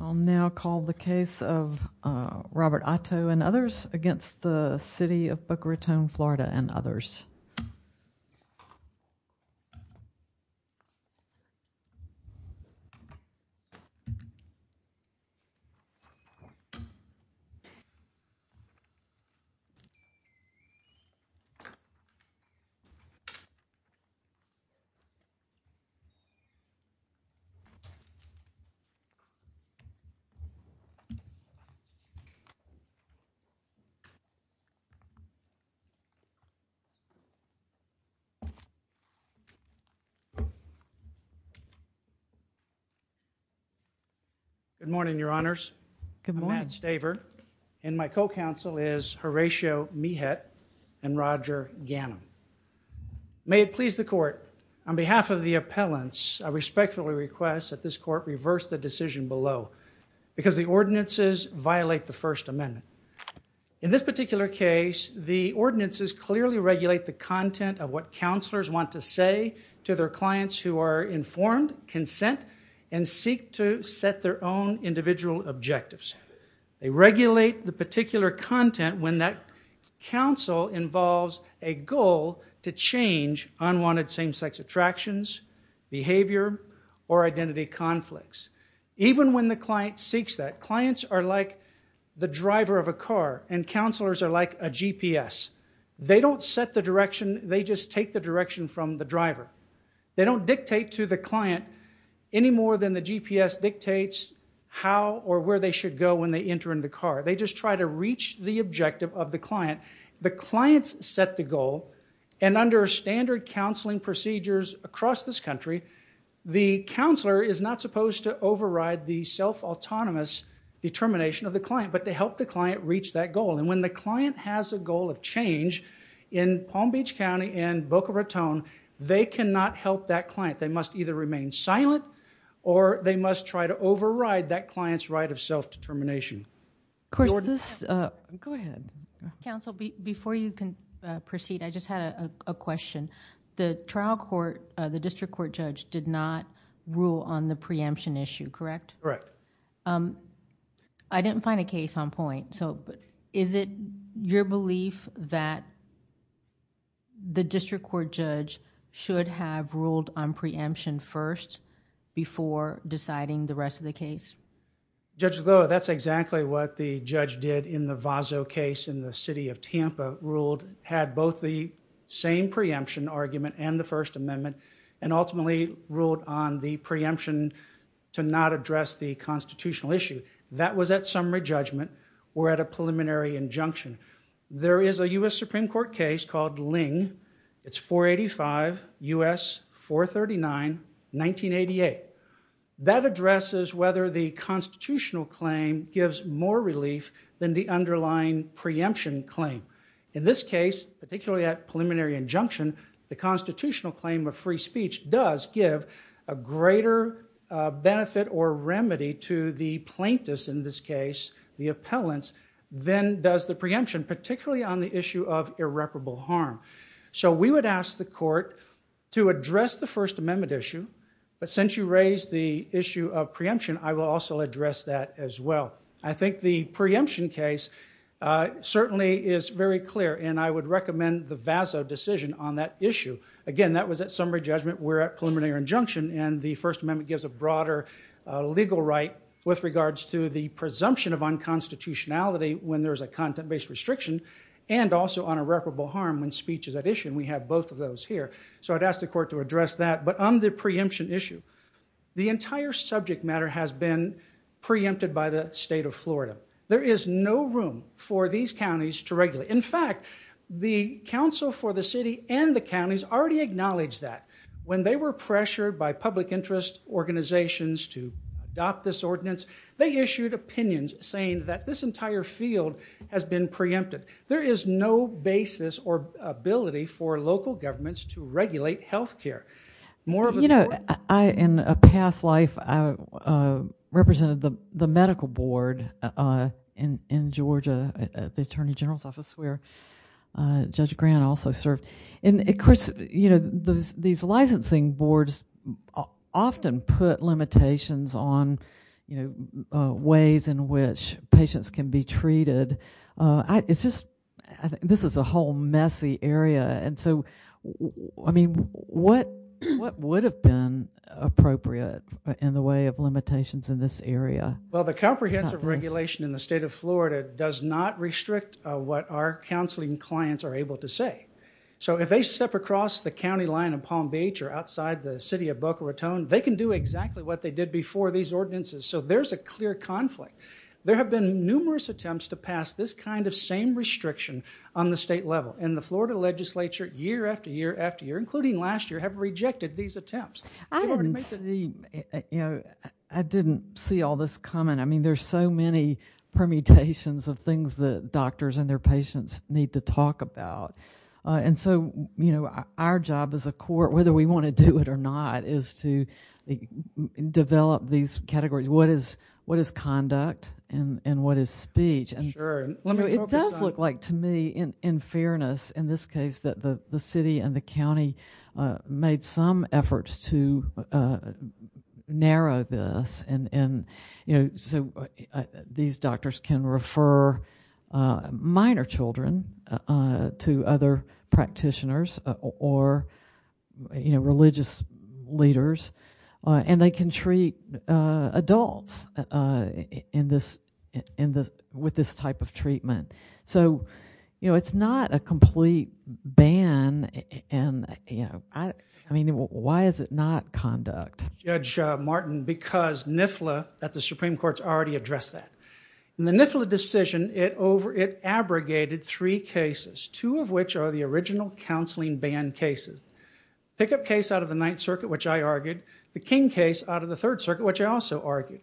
I will now call the case of Robert Otto and others against the City of Boca Raton, Florida Good morning, Your Honors. I'm Matt Staver and my co-counsel is Horatio Mehet and Roger Gannon. May it please the Court, on behalf of the appellants, I respectfully request that this Court reverse the decision below because the ordinances violate the First Amendment. In this particular case, the ordinances clearly regulate the content of what counselors want to say to their clients who are informed, consent, and seek to set their own individual objectives. They regulate the particular content when that counsel involves a goal to change unwanted same-sex attractions, behavior, or identity conflicts. Even when the client seeks that, clients are like the driver of a car and counselors are like a GPS. They don't set the direction, they just take the direction from the driver. They don't dictate to the client any more than the GPS dictates how or where they should go when they enter in the car. They just try to reach the objective of the client. The clients set the goal and under standard counseling procedures across this country, the counselor is not supposed to override the self-autonomous determination of the client, but to help the client reach that goal. And when the client has a goal of change in Palm Beach County and Boca Raton, they cannot help that client. They must either remain silent or they must try to override that client's right of self-determination. Of course, this... Go ahead. Counsel, before you can proceed, I just had a question. The trial court, the district court judge did not rule on the preemption issue, correct? Correct. I didn't find a case on point, so is it your belief that the district court judge should have ruled on preemption first before deciding the rest of the case? Judge Lillo, that's exactly what the judge did in the Vazo case in the city of Tampa, had both the same preemption argument and the First Amendment, and ultimately ruled on the preemption to not address the constitutional issue. That was at summary judgment or at a preliminary injunction. There is a U.S. Supreme Court case called Ling. It's 485 U.S. 439 1988. That addresses whether the constitutional claim gives more relief than the underlying preemption claim. In this case, particularly at preliminary injunction, the constitutional claim of free speech does give a greater benefit or remedy to the plaintiffs, in this case the appellants, than does the preemption, particularly on the issue of irreparable harm. So we would ask the court to address the First Amendment issue, but since you raised the issue of preemption, I will also address that as well. I think the preemption case certainly is very clear, and I would recommend the Vazo decision on that issue. Again, that was at summary judgment, we're at preliminary injunction, and the First Amendment gives a broader legal right with regards to the presumption of unconstitutionality when there's a content-based restriction, and also on irreparable harm when speech is at issue, and we have both of those here. So I'd ask the court to address that, but on the preemption issue, the entire subject matter has been preempted by the state of Florida. There is no room for these counties to regulate. In fact, the council for the city and the counties already acknowledged that. When they were pressured by public interest organizations to adopt this ordinance, they issued opinions saying that this entire field has been preempted. There is no basis or ability for local governments to regulate health care. You know, in a past life, I represented the medical board in Georgia at the Attorney General's office where Judge Grant also served. Of course, these licensing boards often put limitations on ways in which patients can be treated. It's just, this is a whole messy area, and so, I mean, what would have been appropriate in the way of limitations in this area? Well, the comprehensive regulation in the state of Florida does not restrict what our counseling clients are able to say. So if they step across the county line in Palm Beach or outside the city of Boca Raton, they can do exactly what they did before these ordinances, so there's a clear conflict. There have been numerous attempts to pass this kind of same restriction on the state level, and the Florida legislature year after year after year, including last year, have rejected these attempts. I didn't see all this coming. I mean, there's so many permutations of things that doctors and their patients need to talk about, and so, you know, our job as a court, whether we want to do it or not, is to develop these categories. What is conduct, and what is speech? It does look like, to me, in fairness, in this case, that the city and the county made some efforts to narrow this, and so these doctors can refer minor children to other practitioners or religious leaders, and they can treat adults with this type of treatment. So, you know, it's not a complete ban, and I mean, why is it not conduct? Judge Martin, because NIFLA at the Supreme Court has already addressed that. In the NIFLA decision, it abrogated three cases, two of which are the original counseling ban cases. The pickup case out of the Ninth Circuit, which I argued, the King case out of the Third Circuit, which I also argued,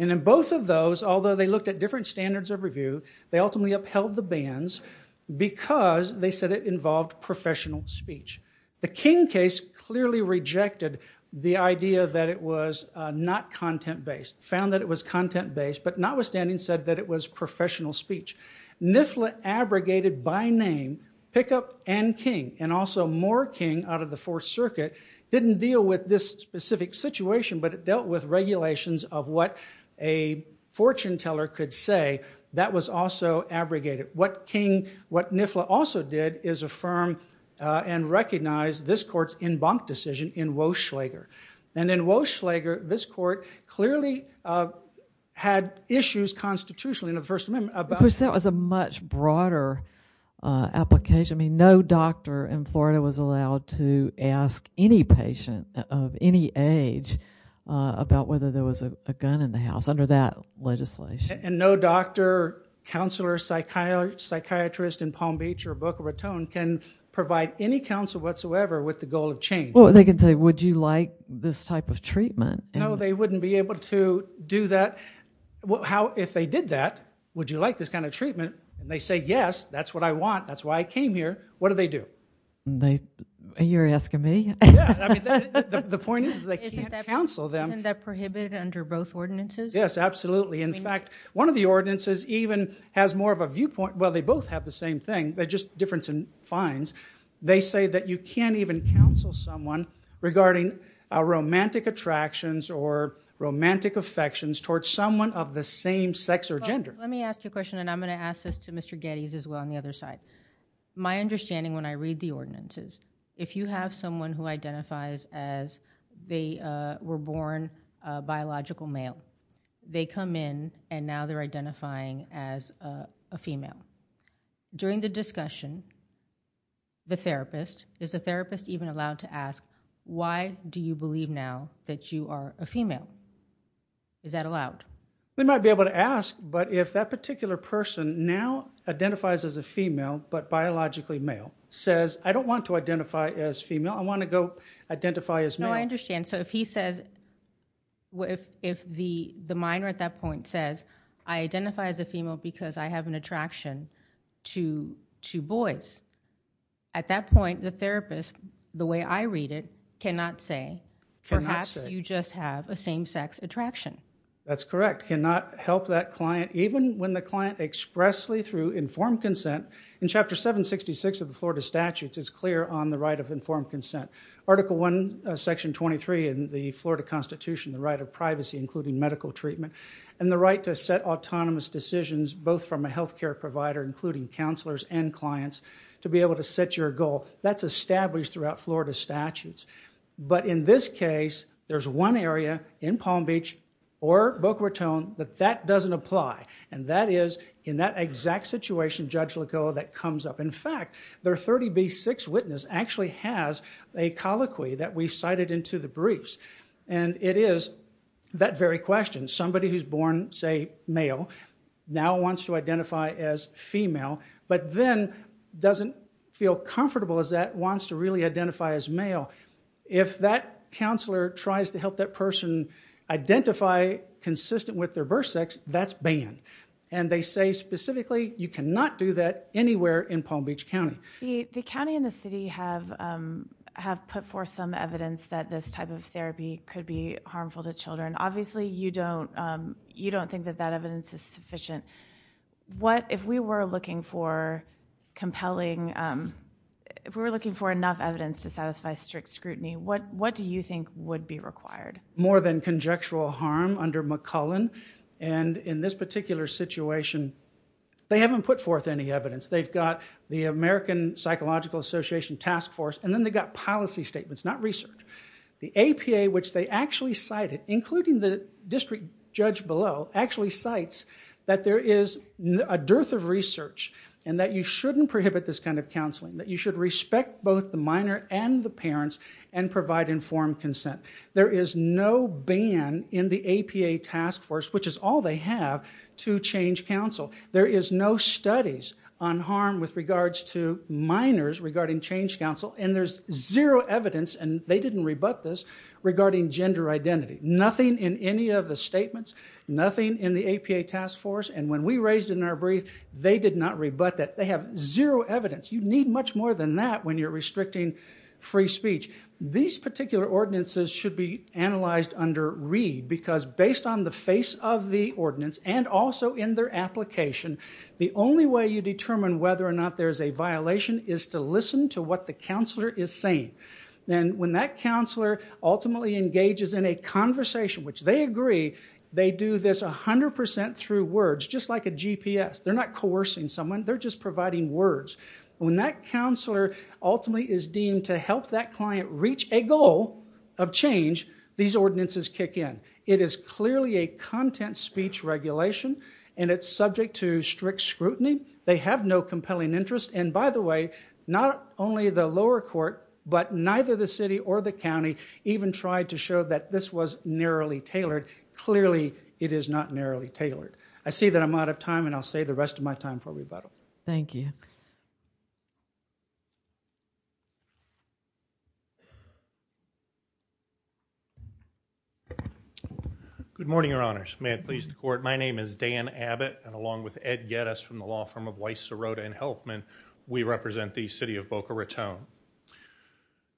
and in both of those, although they looked at different standards of review, they ultimately upheld the bans because they said it involved professional speech. The King case clearly rejected the idea that it was not content-based, found that it was content-based, but notwithstanding said that it was professional speech. NIFLA abrogated, by name, pickup and King, and also more King out of the Fourth Circuit, didn't deal with this specific situation, but it dealt with regulations of what a fortune teller could say. That was also abrogated. What King, what NIFLA also did is affirm and recognize this court's en banc decision in Woschlager, and in Woschlager, this court clearly had issues constitutionally in the First Amendment. That was a much broader application. I mean, no doctor in Florida was allowed to ask any patient of any age about whether there was a gun in the house under that legislation. And no doctor, counselor, psychiatrist in Palm Beach or Boca Raton can provide any counsel whatsoever with the goal of change. Well, they could say, would you like this type of treatment? No, they wouldn't be able to do that. How, if they did that, would you like this kind of treatment? And they say, yes, that's what I want, that's why I came here. What do they do? They, you're asking me? Yeah, I mean, the point is they can't counsel them. Isn't that prohibited under both ordinances? Yes, absolutely. In fact, one of the ordinances even has more of a viewpoint, well, they both have the same thing, they're just difference in fines. They say that you can't even counsel someone regarding romantic attractions or romantic affections towards someone of the same sex or gender. Let me ask you a question, and I'm going to ask this to Mr. Geddes as well on the other side. My understanding when I read the ordinance is if you have someone who identifies as they were born a biological male, they come in and now they're identifying as a female. During the discussion, the therapist, is the therapist even allowed to ask, why do you believe now that you are a female? Is that allowed? They might be able to ask, but if that particular person now identifies as a female but biologically male, says, I don't want to identify as female, I want to go identify as male. That's what I understand. So if he says, if the minor at that point says, I identify as a female because I have an attraction to boys. At that point, the therapist, the way I read it, cannot say, perhaps you just have a same sex attraction. That's correct. Cannot help that client, even when the client expressly through informed consent. In Chapter 766 of the Florida Statutes, it's clear on the right of informed consent. Article 1, Section 23 in the Florida Constitution, the right of privacy, including medical treatment, and the right to set autonomous decisions, both from a health care provider, including counselors and clients, to be able to set your goal. That's established throughout Florida statutes. But in this case, there's one area in Palm Beach or Boca Raton that that doesn't apply. And that is in that exact situation, Judge Lacoa, that comes up. In fact, their 30B6 witness actually has a colloquy that we cited into the briefs. And it is that very question. Somebody who's born, say, male, now wants to identify as female, but then doesn't feel comfortable as that, wants to really identify as male. If that counselor tries to help that person identify consistent with their birth sex, that's banned. And they say, specifically, you cannot do that anywhere in Palm Beach County. The county and the city have put forth some evidence that this type of therapy could be harmful to children. Obviously, you don't think that that evidence is sufficient. If we were looking for enough evidence to satisfy strict scrutiny, what do you think would be required? More than conjectural harm under McCullen. And in this particular situation, they haven't put forth any evidence. They've got the American Psychological Association Task Force. And then they've got policy statements, not research. The APA, which they actually cited, including the district judge below, actually cites that there is a dearth of research and that you shouldn't prohibit this kind of counseling, that you should respect both the minor and the parents and provide informed consent. There is no ban in the APA task force, which is all they have, to change counsel. There is no studies on harm with regards to minors regarding change counsel. And there's zero evidence, and they didn't rebut this, regarding gender identity. Nothing in any of the statements. Nothing in the APA task force. And when we raised it in our brief, they did not rebut that. They have zero evidence. You need much more than that when you're restricting free speech. These particular ordinances should be analyzed under READ, because based on the face of the ordinance and also in their application, the only way you determine whether or not there's a violation is to listen to what the counselor is saying. And when that counselor ultimately engages in a conversation, which they agree, they do this 100% through words, just like a GPS. They're not coercing someone. They're just providing words. When that counselor ultimately is deemed to help that client reach a goal of change, these ordinances kick in. It is clearly a content speech regulation, and it's subject to strict scrutiny. They have no compelling interest. And by the way, not only the lower court, but neither the city or the county even tried to show that this was narrowly tailored. Clearly, it is not narrowly tailored. I see that I'm out of time, and I'll save the rest of my time for rebuttal. Thank you. Good morning, Your Honors. May it please the Court, my name is Dan Abbott, and along with Ed Geddes from the law firm of Weiss, Sirota, and Helfman, we represent the city of Boca Raton.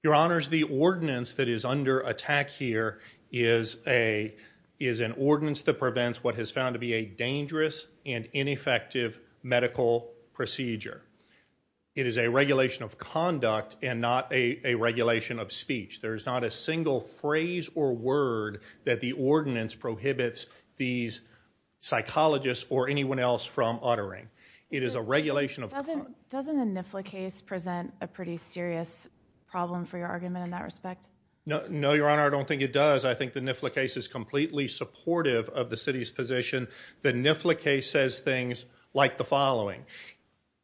Your Honors, the ordinance that is under attack here is an ordinance that prevents what is found to be a dangerous and ineffective medical procedure. It is a regulation of conduct and not a regulation of speech. There is not a single phrase or word that the ordinance prohibits these psychologists or anyone else from uttering. It is a regulation of conduct. Doesn't the NIFLA case present a pretty serious problem for your argument in that respect? No, Your Honor, I don't think it does. I think the NIFLA case is completely supportive of the city's position. The NIFLA case says things like the following.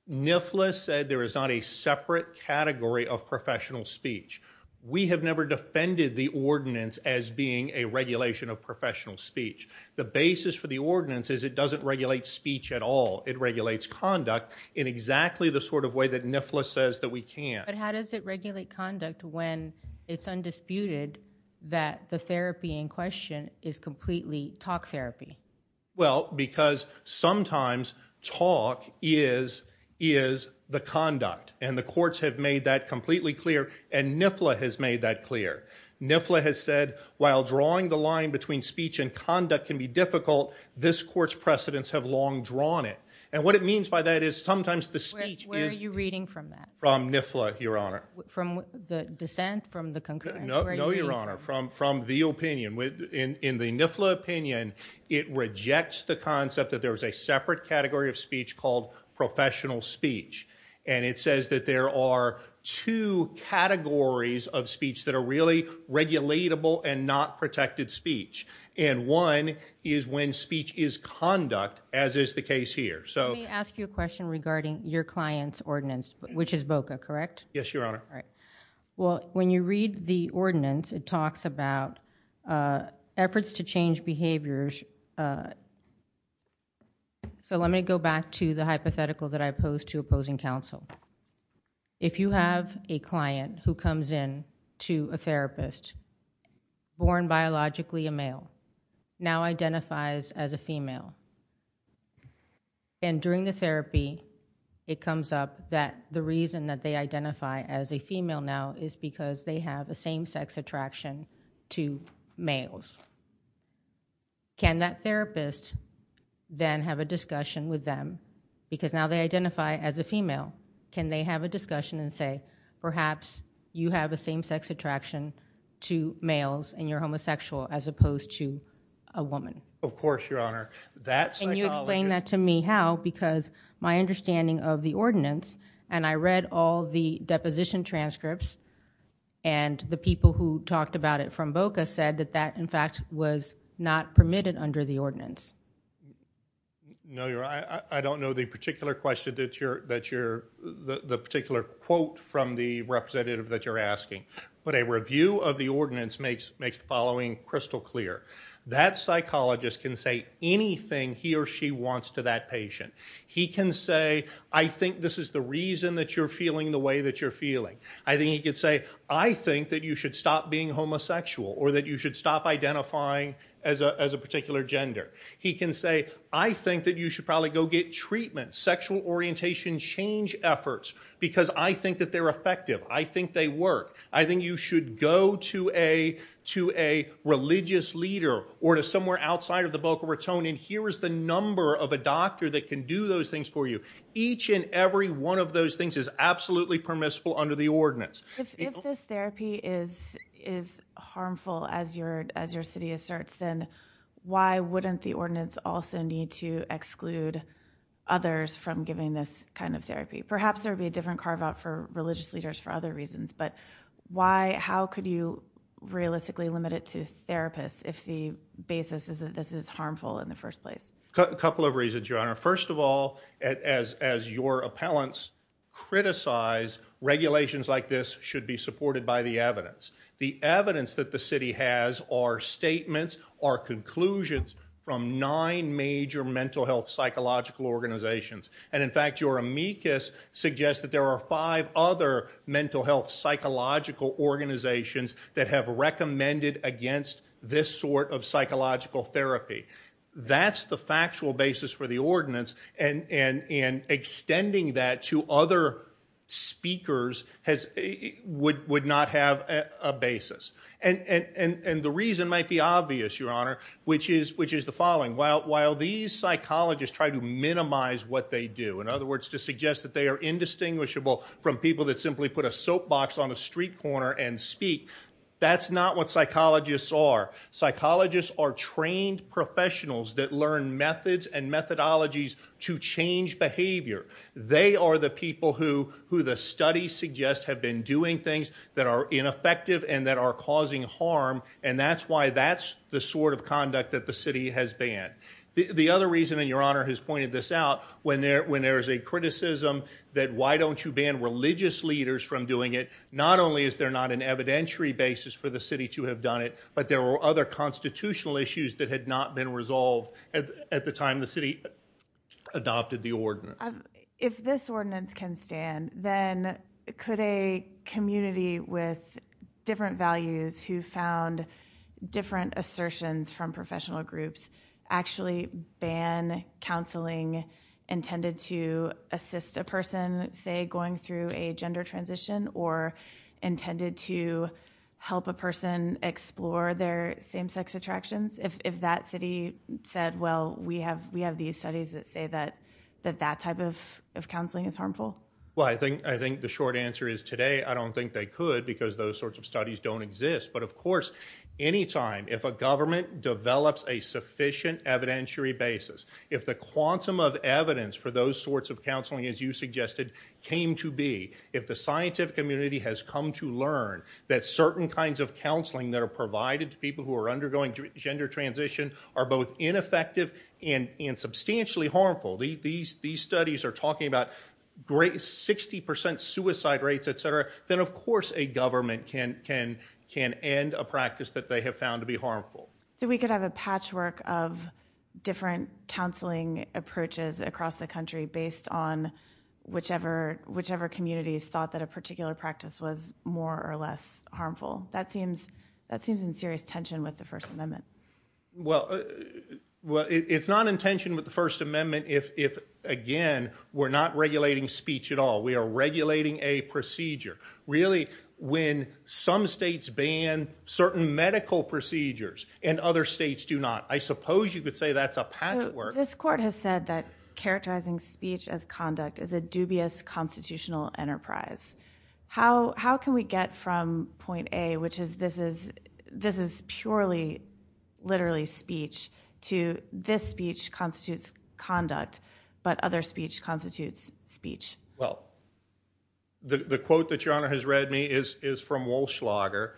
NIFLA said there is not a separate category of professional speech. We have never defended the ordinance as being a regulation of professional speech. The basis for the ordinance is it doesn't regulate speech at all. It regulates conduct in exactly the sort of way that NIFLA says that we can't. But how does it regulate conduct when it's undisputed that the therapy in question is completely talk therapy? Well, because sometimes talk is the conduct, and the courts have made that completely clear, and NIFLA has made that clear. NIFLA has said while drawing the line between speech and conduct can be difficult, this court's precedents have long drawn it. And what it means by that is sometimes the speech is- Where are you reading from that? From NIFLA, Your Honor. From the dissent, from the concurrence? No, Your Honor, from the opinion. In the NIFLA opinion, it rejects the concept that there is a separate category of speech called professional speech. And it says that there are two categories of speech that are really regulatable and not protected speech. And one is when speech is conduct, as is the case here. Let me ask you a question regarding your client's ordinance, which is BOCA, correct? Yes, Your Honor. All right. Well, when you read the ordinance, it talks about efforts to change behaviors. So let me go back to the hypothetical that I posed to opposing counsel. If you have a client who comes in to a therapist, born biologically a male, now identifies as a female. And during the therapy, it comes up that the reason that they identify as a female now is because they have a same-sex attraction to males. Can that therapist then have a discussion with them? Because now they identify as a female. Can they have a discussion and say, perhaps you have a same-sex attraction to males and you're homosexual as opposed to a woman? Of course, Your Honor. Can you explain that to me how? Because my understanding of the ordinance, and I read all the deposition transcripts, and the people who talked about it from BOCA said that that, in fact, was not permitted under the ordinance. No, Your Honor. I don't know the particular question that you're – the particular quote from the representative that you're asking. But a review of the ordinance makes the following crystal clear. That psychologist can say anything he or she wants to that patient. He can say, I think this is the reason that you're feeling the way that you're feeling. I think he could say, I think that you should stop being homosexual or that you should stop identifying as a particular gender. He can say, I think that you should probably go get treatment. Sexual orientation change efforts because I think that they're effective. I think they work. I think you should go to a religious leader or to somewhere outside of the BOCA Raton, and here is the number of a doctor that can do those things for you. Each and every one of those things is absolutely permissible under the ordinance. If this therapy is harmful, as your city asserts, then why wouldn't the ordinance also need to exclude others from giving this kind of therapy? Perhaps there would be a different carve-out for religious leaders for other reasons, but how could you realistically limit it to therapists if the basis is that this is harmful in the first place? A couple of reasons, Your Honor. First of all, as your appellants criticize, regulations like this should be supported by the evidence. The evidence that the city has are statements or conclusions from nine major mental health psychological organizations. In fact, your amicus suggests that there are five other mental health psychological organizations that have recommended against this sort of psychological therapy. That's the factual basis for the ordinance, and extending that to other speakers would not have a basis. The reason might be obvious, Your Honor, which is the following. While these psychologists try to minimize what they do, in other words, to suggest that they are indistinguishable from people that simply put a soapbox on a street corner and speak, that's not what psychologists are. Psychologists are trained professionals that learn methods and methodologies to change behavior. They are the people who the studies suggest have been doing things that are ineffective and that are causing harm, and that's why that's the sort of conduct that the city has banned. The other reason, and Your Honor has pointed this out, when there is a criticism that why don't you ban religious leaders from doing it, not only is there not an evidentiary basis for the city to have done it, but there were other constitutional issues that had not been resolved at the time the city adopted the ordinance. If this ordinance can stand, then could a community with different values who found different assertions from professional groups actually ban counseling intended to assist a person, say, going through a gender transition, or intended to help a person explore their same-sex attractions? If that city said, well, we have these studies that say that that type of counseling is harmful? Well, I think the short answer is today, I don't think they could, because those sorts of studies don't exist. But of course, any time, if a government develops a sufficient evidentiary basis, if the quantum of evidence for those sorts of counseling, as you suggested, came to be, if the scientific community has come to learn that certain kinds of counseling that are provided to people who are undergoing gender transition are both ineffective and substantially harmful, these studies are talking about 60% suicide rates, etc., then of course a government can end a practice that they have found to be harmful. So we could have a patchwork of different counseling approaches across the country based on whichever communities thought that a particular practice was more or less harmful. That seems in serious tension with the First Amendment. Well, it's not in tension with the First Amendment if, again, we're not regulating speech at all. We are regulating a procedure. Really, when some states ban certain medical procedures and other states do not, I suppose you could say that's a patchwork. This court has said that characterizing speech as conduct is a dubious constitutional enterprise. How can we get from point A, which is this is purely literally speech, to this speech constitutes conduct but other speech constitutes speech? Well, the quote that Your Honor has read me is from Walschlager.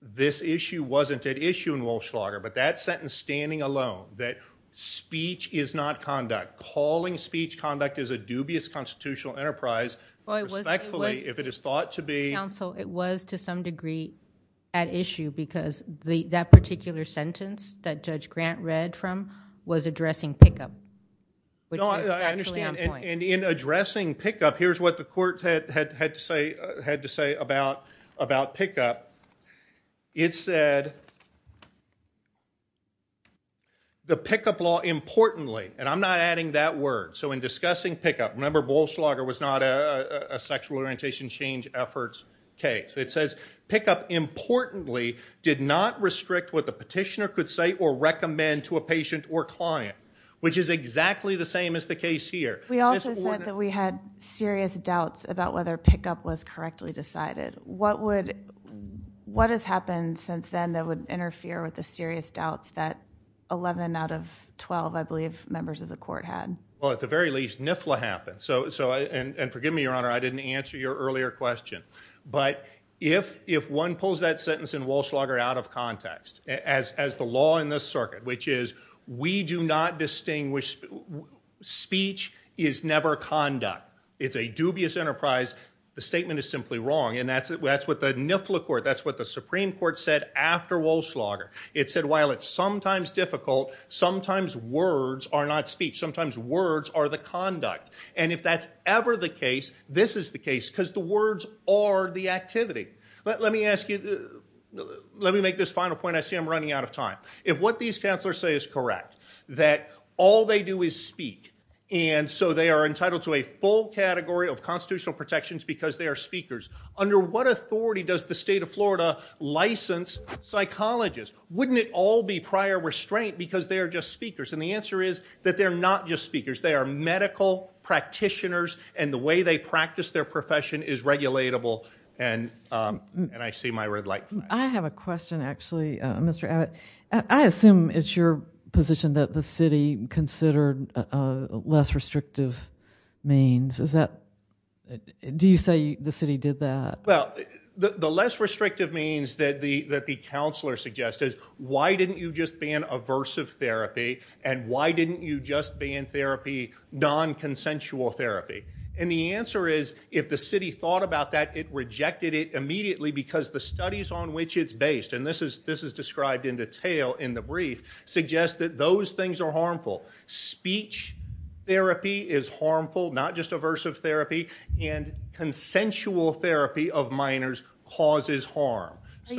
This issue wasn't at issue in Walschlager, but that sentence standing alone that speech is not conduct, calling speech conduct is a dubious constitutional enterprise, respectfully if it is thought to be. Counsel, it was to some degree at issue because that particular sentence that Judge Grant read from was addressing pickup, which is actually on point. I understand, and in addressing pickup, here's what the court had to say about pickup. It said the pickup law importantly, and I'm not adding that word. So in discussing pickup, remember Walschlager was not a sexual orientation change efforts case. It says pickup importantly did not restrict what the petitioner could say or recommend to a patient or client, which is exactly the same as the case here. We also said that we had serious doubts about whether pickup was correctly decided. What has happened since then that would interfere with the serious doubts that 11 out of 12, I believe, members of the court had? Well, at the very least, NIFLA happened. And forgive me, Your Honor, I didn't answer your earlier question. But if one pulls that sentence in Walschlager out of context, as the law in this circuit, which is we do not distinguish speech is never conduct, it's a dubious enterprise, the statement is simply wrong, and that's what the NIFLA court, that's what the Supreme Court said after Walschlager. It said while it's sometimes difficult, sometimes words are not speech. Sometimes words are the conduct. And if that's ever the case, this is the case because the words are the activity. Let me ask you, let me make this final point. I see I'm running out of time. If what these counselors say is correct, that all they do is speak, and so they are entitled to a full category of constitutional protections because they are speakers, under what authority does the state of Florida license psychologists? Wouldn't it all be prior restraint because they are just speakers? And the answer is that they're not just speakers. They are medical practitioners, and the way they practice their profession is regulatable, and I see my red light. I have a question, actually, Mr. Abbott. I assume it's your position that the city considered less restrictive means. Do you say the city did that? Well, the less restrictive means that the counselor suggested, why didn't you just ban aversive therapy and why didn't you just ban therapy, non-consensual therapy? And the answer is if the city thought about that, it rejected it immediately because the studies on which it's based, and this is described in detail in the brief, suggests that those things are harmful. Speech therapy is harmful, not just aversive therapy, and consensual therapy of minors causes harm. I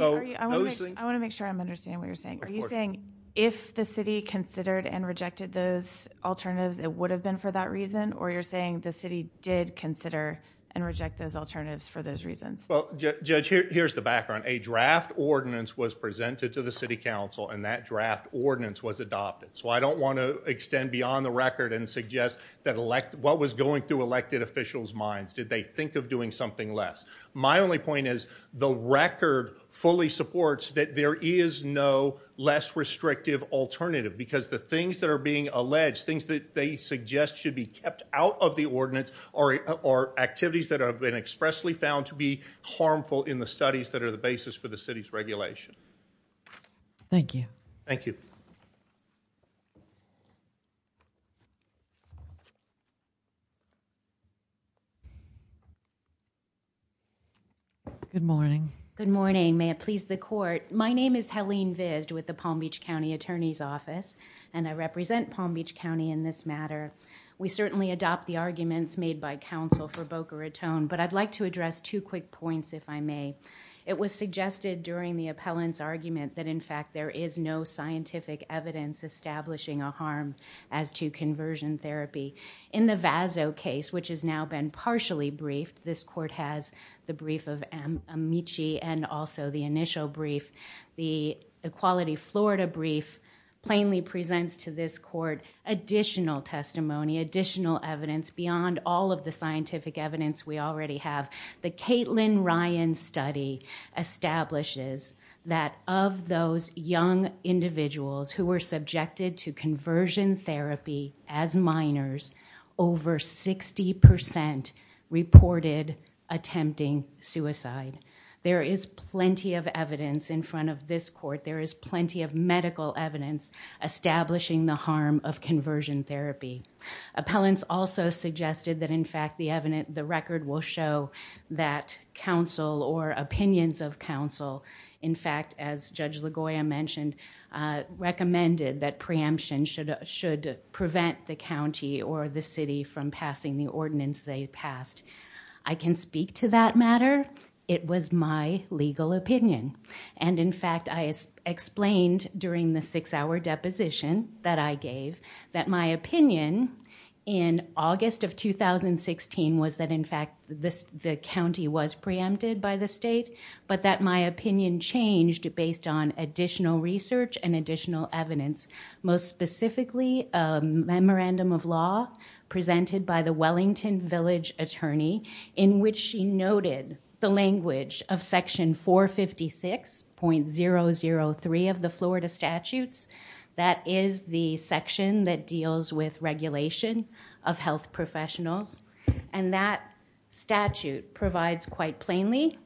want to make sure I'm understanding what you're saying. Are you saying if the city considered and rejected those alternatives, it would have been for that reason? Or you're saying the city did consider and reject those alternatives for those reasons? Well, Judge, here's the background. A draft ordinance was presented to the city council, and that draft ordinance was adopted. So I don't want to extend beyond the record and suggest what was going through elected officials' minds. Did they think of doing something less? My only point is the record fully supports that there is no less restrictive alternative because the things that are being alleged, things that they suggest should be kept out of the ordinance are activities that have been expressly found to be harmful in the studies that are the basis for the city's regulation. Thank you. Thank you. Good morning. Good morning. May it please the court. My name is Helene Vizd with the Palm Beach County Attorney's Office, and I represent Palm Beach County in this matter. We certainly adopt the arguments made by counsel for Boca Raton, but I'd like to address two quick points, if I may. It was suggested during the appellant's argument that, in fact, there is no scientific evidence establishing a harm as to conversion therapy. In the Vazzo case, which has now been partially briefed, this court has the brief of Amici and also the initial brief. The Equality Florida brief plainly presents to this court additional testimony, additional evidence beyond all of the scientific evidence we already have. The Caitlin Ryan study establishes that of those young individuals who were subjected to conversion therapy as minors, over 60% reported attempting suicide. There is plenty of evidence in front of this court. There is plenty of medical evidence establishing the harm of conversion therapy. Appellants also suggested that, in fact, the record will show that counsel or opinions of counsel, in fact, as Judge LaGoya mentioned, recommended that preemption should prevent the county or the city from passing the ordinance they passed. I can speak to that matter. It was my legal opinion. In fact, I explained during the six-hour deposition that I gave that my opinion in August of 2016 was that, in fact, the county was preempted by the state, but that my opinion changed based on additional research and additional evidence, most specifically a memorandum of law presented by the Wellington Village attorney in which she noted the language of section 456.003 of the Florida statutes. That is the section that deals with regulation of health professionals. And that statute provides quite plainly,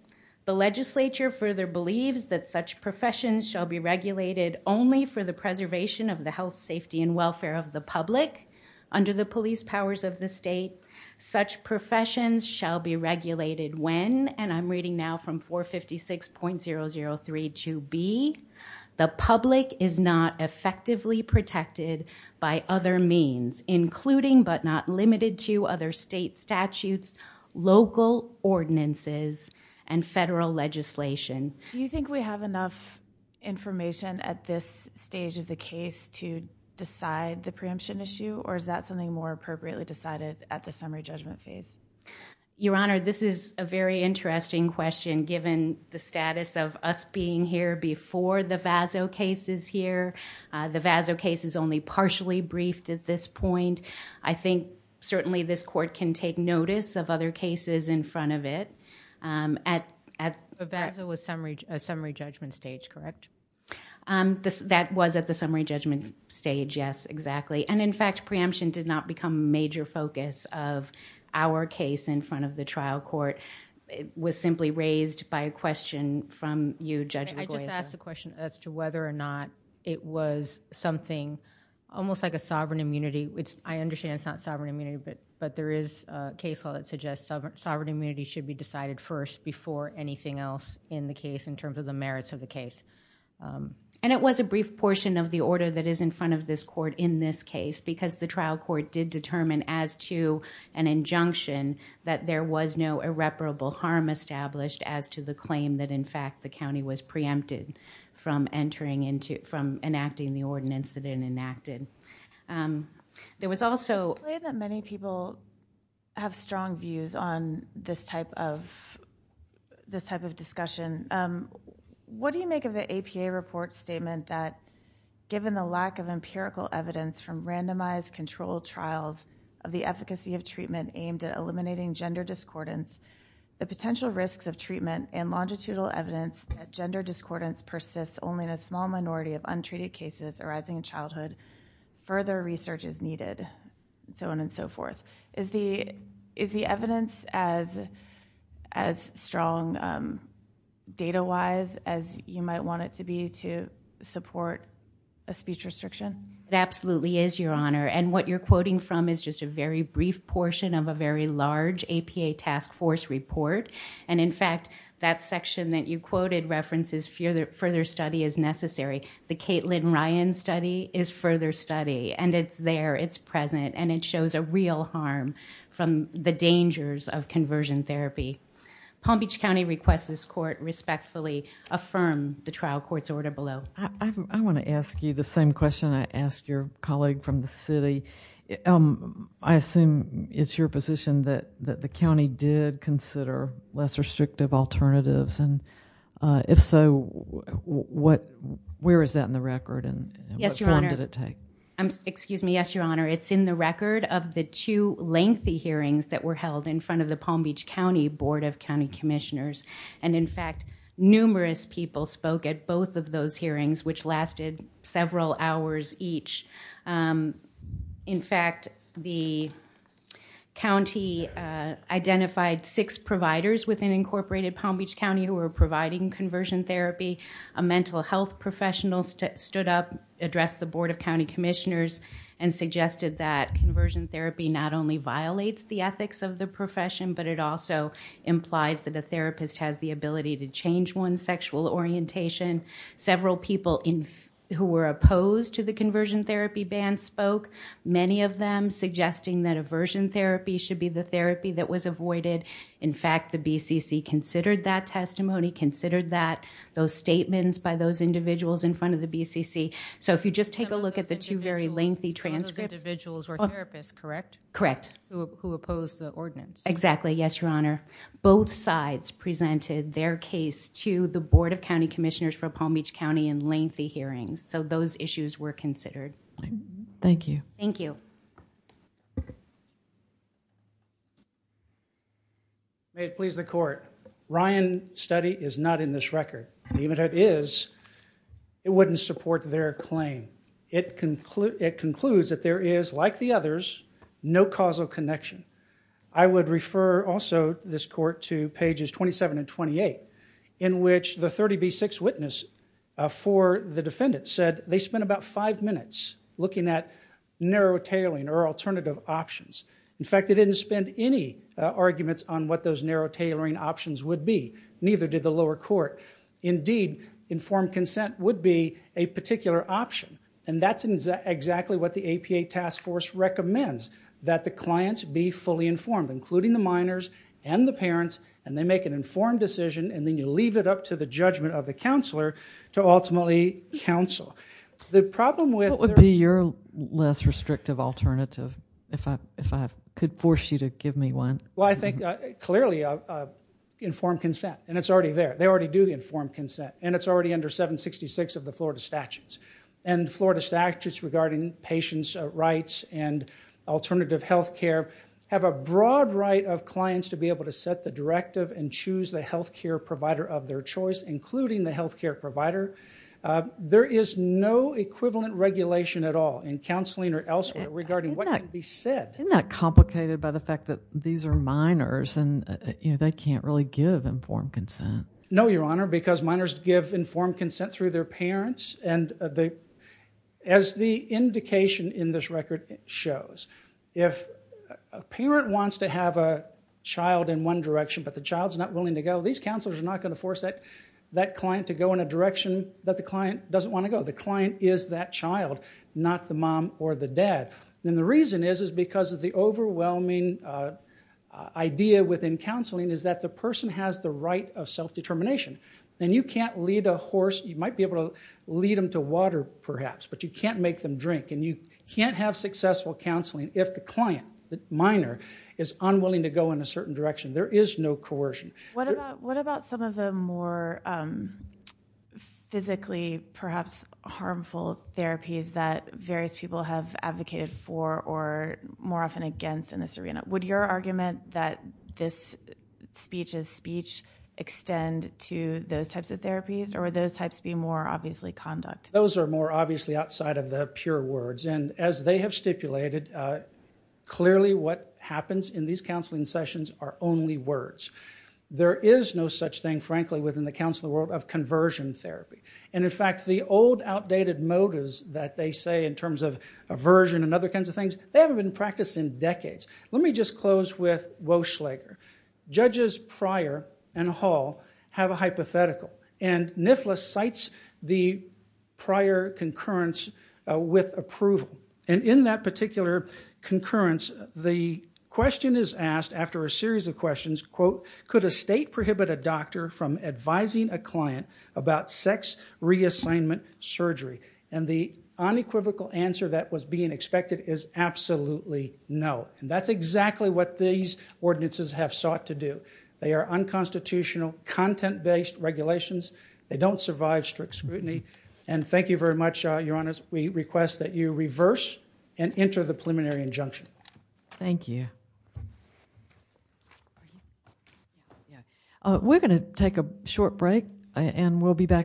the legislature further believes that such professions shall be regulated only for the preservation of the health, safety, and welfare of the public under the police powers of the state. Such professions shall be regulated when, and I'm reading now from 456.0032B, the public is not effectively protected by other means, including but not limited to other state statutes, local ordinances, and federal legislation. Do you think we have enough information at this stage of the case to decide the preemption issue, or is that something more appropriately decided at the summary judgment phase? Your Honor, this is a very interesting question given the status of us being here before the VASO case is here. The VASO case is only partially briefed at this point. I think certainly this court can take notice of other cases in front of it. The VASO was summary judgment stage, correct? That was at the summary judgment stage, yes, exactly. And in fact, preemption did not become a major focus of our case in front of the trial court. It was simply raised by a question from you, Judge Nagoya. I just asked a question as to whether or not it was something almost like a sovereign immunity. I understand it's not sovereign immunity, but there is a case law that suggests sovereign immunity should be decided first before anything else in the case in terms of the merits of the case. And it was a brief portion of the order that is in front of this court in this case because the trial court did determine as to an injunction that there was no irreparable harm established as to the claim that in fact the county was preempted from enacting the ordinance that it enacted. It's clear that many people have strong views on this type of discussion. What do you make of the APA report statement that given the lack of empirical evidence from randomized controlled trials of the efficacy of treatment aimed at eliminating gender discordance, the potential risks of treatment and longitudinal evidence that gender discordance persists only in a small minority of untreated cases arising in childhood, further research is needed, and so on and so forth. Is the evidence as strong data-wise as you might want it to be to support a speech restriction? It absolutely is, Your Honor. And what you're quoting from is just a very brief portion of a very large APA task force report. And in fact, that section that you quoted references further study is necessary. The Caitlin Ryan study is further study, and it's there, it's present, and it shows a real harm from the dangers of conversion therapy. Palm Beach County requests this court respectfully affirm the trial court's order below. I want to ask you the same question I asked your colleague from the city. I assume it's your position that the county did consider less restrictive alternatives, and if so, where is that in the record and how long did it take? Yes, Your Honor. Excuse me. Yes, Your Honor. It's in the record of the two lengthy hearings that were held in front of the Palm Beach County Board of County Commissioners. And in fact, numerous people spoke at both of those hearings, which lasted several hours each. In fact, the county identified six providers within Incorporated Palm Beach County who were providing conversion therapy. A mental health professional stood up, addressed the Board of County Commissioners, and suggested that conversion therapy not only violates the ethics of the profession, but it also implies that a therapist has the ability to change one's sexual orientation. Several people who were opposed to the conversion therapy ban spoke, many of them suggesting that aversion therapy should be the therapy that was avoided. In fact, the BCC considered that testimony, considered those statements by those individuals in front of the BCC. So if you just take a look at the two very lengthy transcripts. Some of those individuals were therapists, correct? Correct. Who opposed the ordinance. Exactly. Yes, Your Honor. Both sides presented their case to the Board of County Commissioners for Palm Beach County in lengthy hearings. So those issues were considered. Thank you. Thank you. May it please the court. Ryan's study is not in this record. Even if it is, it wouldn't support their claim. It concludes that there is, like the others, no causal connection. I would refer also, this court, to pages 27 and 28 in which the 30B6 witness for the defendant said they spent about five minutes looking at narrow tailoring or alternative options. In fact, they didn't spend any arguments on what those narrow tailoring options would be. Neither did the lower court. Indeed, informed consent would be a particular option. And that's exactly what the APA task force recommends, that the clients be fully informed, including the minors and the parents. And they make an informed decision, and then you leave it up to the judgment of the counselor to ultimately counsel. What would be your less restrictive alternative, if I could force you to give me one? Well, I think, clearly, informed consent. And it's already there. They already do the informed consent. And it's already under 766 of the Florida statutes. And Florida statutes regarding patients' rights and alternative health care have a broad right of clients to be able to set the directive and choose the health care provider of their choice, including the health care provider. There is no equivalent regulation at all in counseling or elsewhere regarding what can be said. Isn't that complicated by the fact that these are minors, and they can't really give informed consent? No, Your Honor, because minors give informed consent through their parents. And as the indication in this record shows, if a parent wants to have a child in one direction, but the child's not willing to go, these counselors are not going to force that client to go in a direction that the client doesn't want to go. The client is that child, not the mom or the dad. And the reason is, is because of the overwhelming idea within counseling, is that the person has the right of self-determination. And you can't lead a horse, you might be able to lead them to water perhaps, but you can't make them drink. And you can't have successful counseling if the client, the minor, is unwilling to go in a certain direction. There is no coercion. What about some of the more physically perhaps harmful therapies that various people have advocated for or more often against in this arena? Would your argument that this speech is speech extend to those types of therapies, or would those types be more obviously conduct? Those are more obviously outside of the pure words. And as they have stipulated, clearly what happens in these counseling sessions are only words. There is no such thing, frankly, within the counseling world of conversion therapy. And in fact, the old outdated motives that they say in terms of aversion and other kinds of things, they haven't been practiced in decades. Let me just close with Woshlager. Judges Pryor and Hall have a hypothetical. And NIFLA cites the prior concurrence with approval. And in that particular concurrence, the question is asked after a series of questions, quote, could a state prohibit a doctor from advising a client about sex reassignment surgery? And the unequivocal answer that was being expected is absolutely no. And that's exactly what these ordinances have sought to do. They are unconstitutional, content-based regulations. They don't survive strict scrutiny. And thank you very much, Your Honors. We request that you reverse and enter the preliminary injunction. Thank you. We're going to take a short break and we'll be back.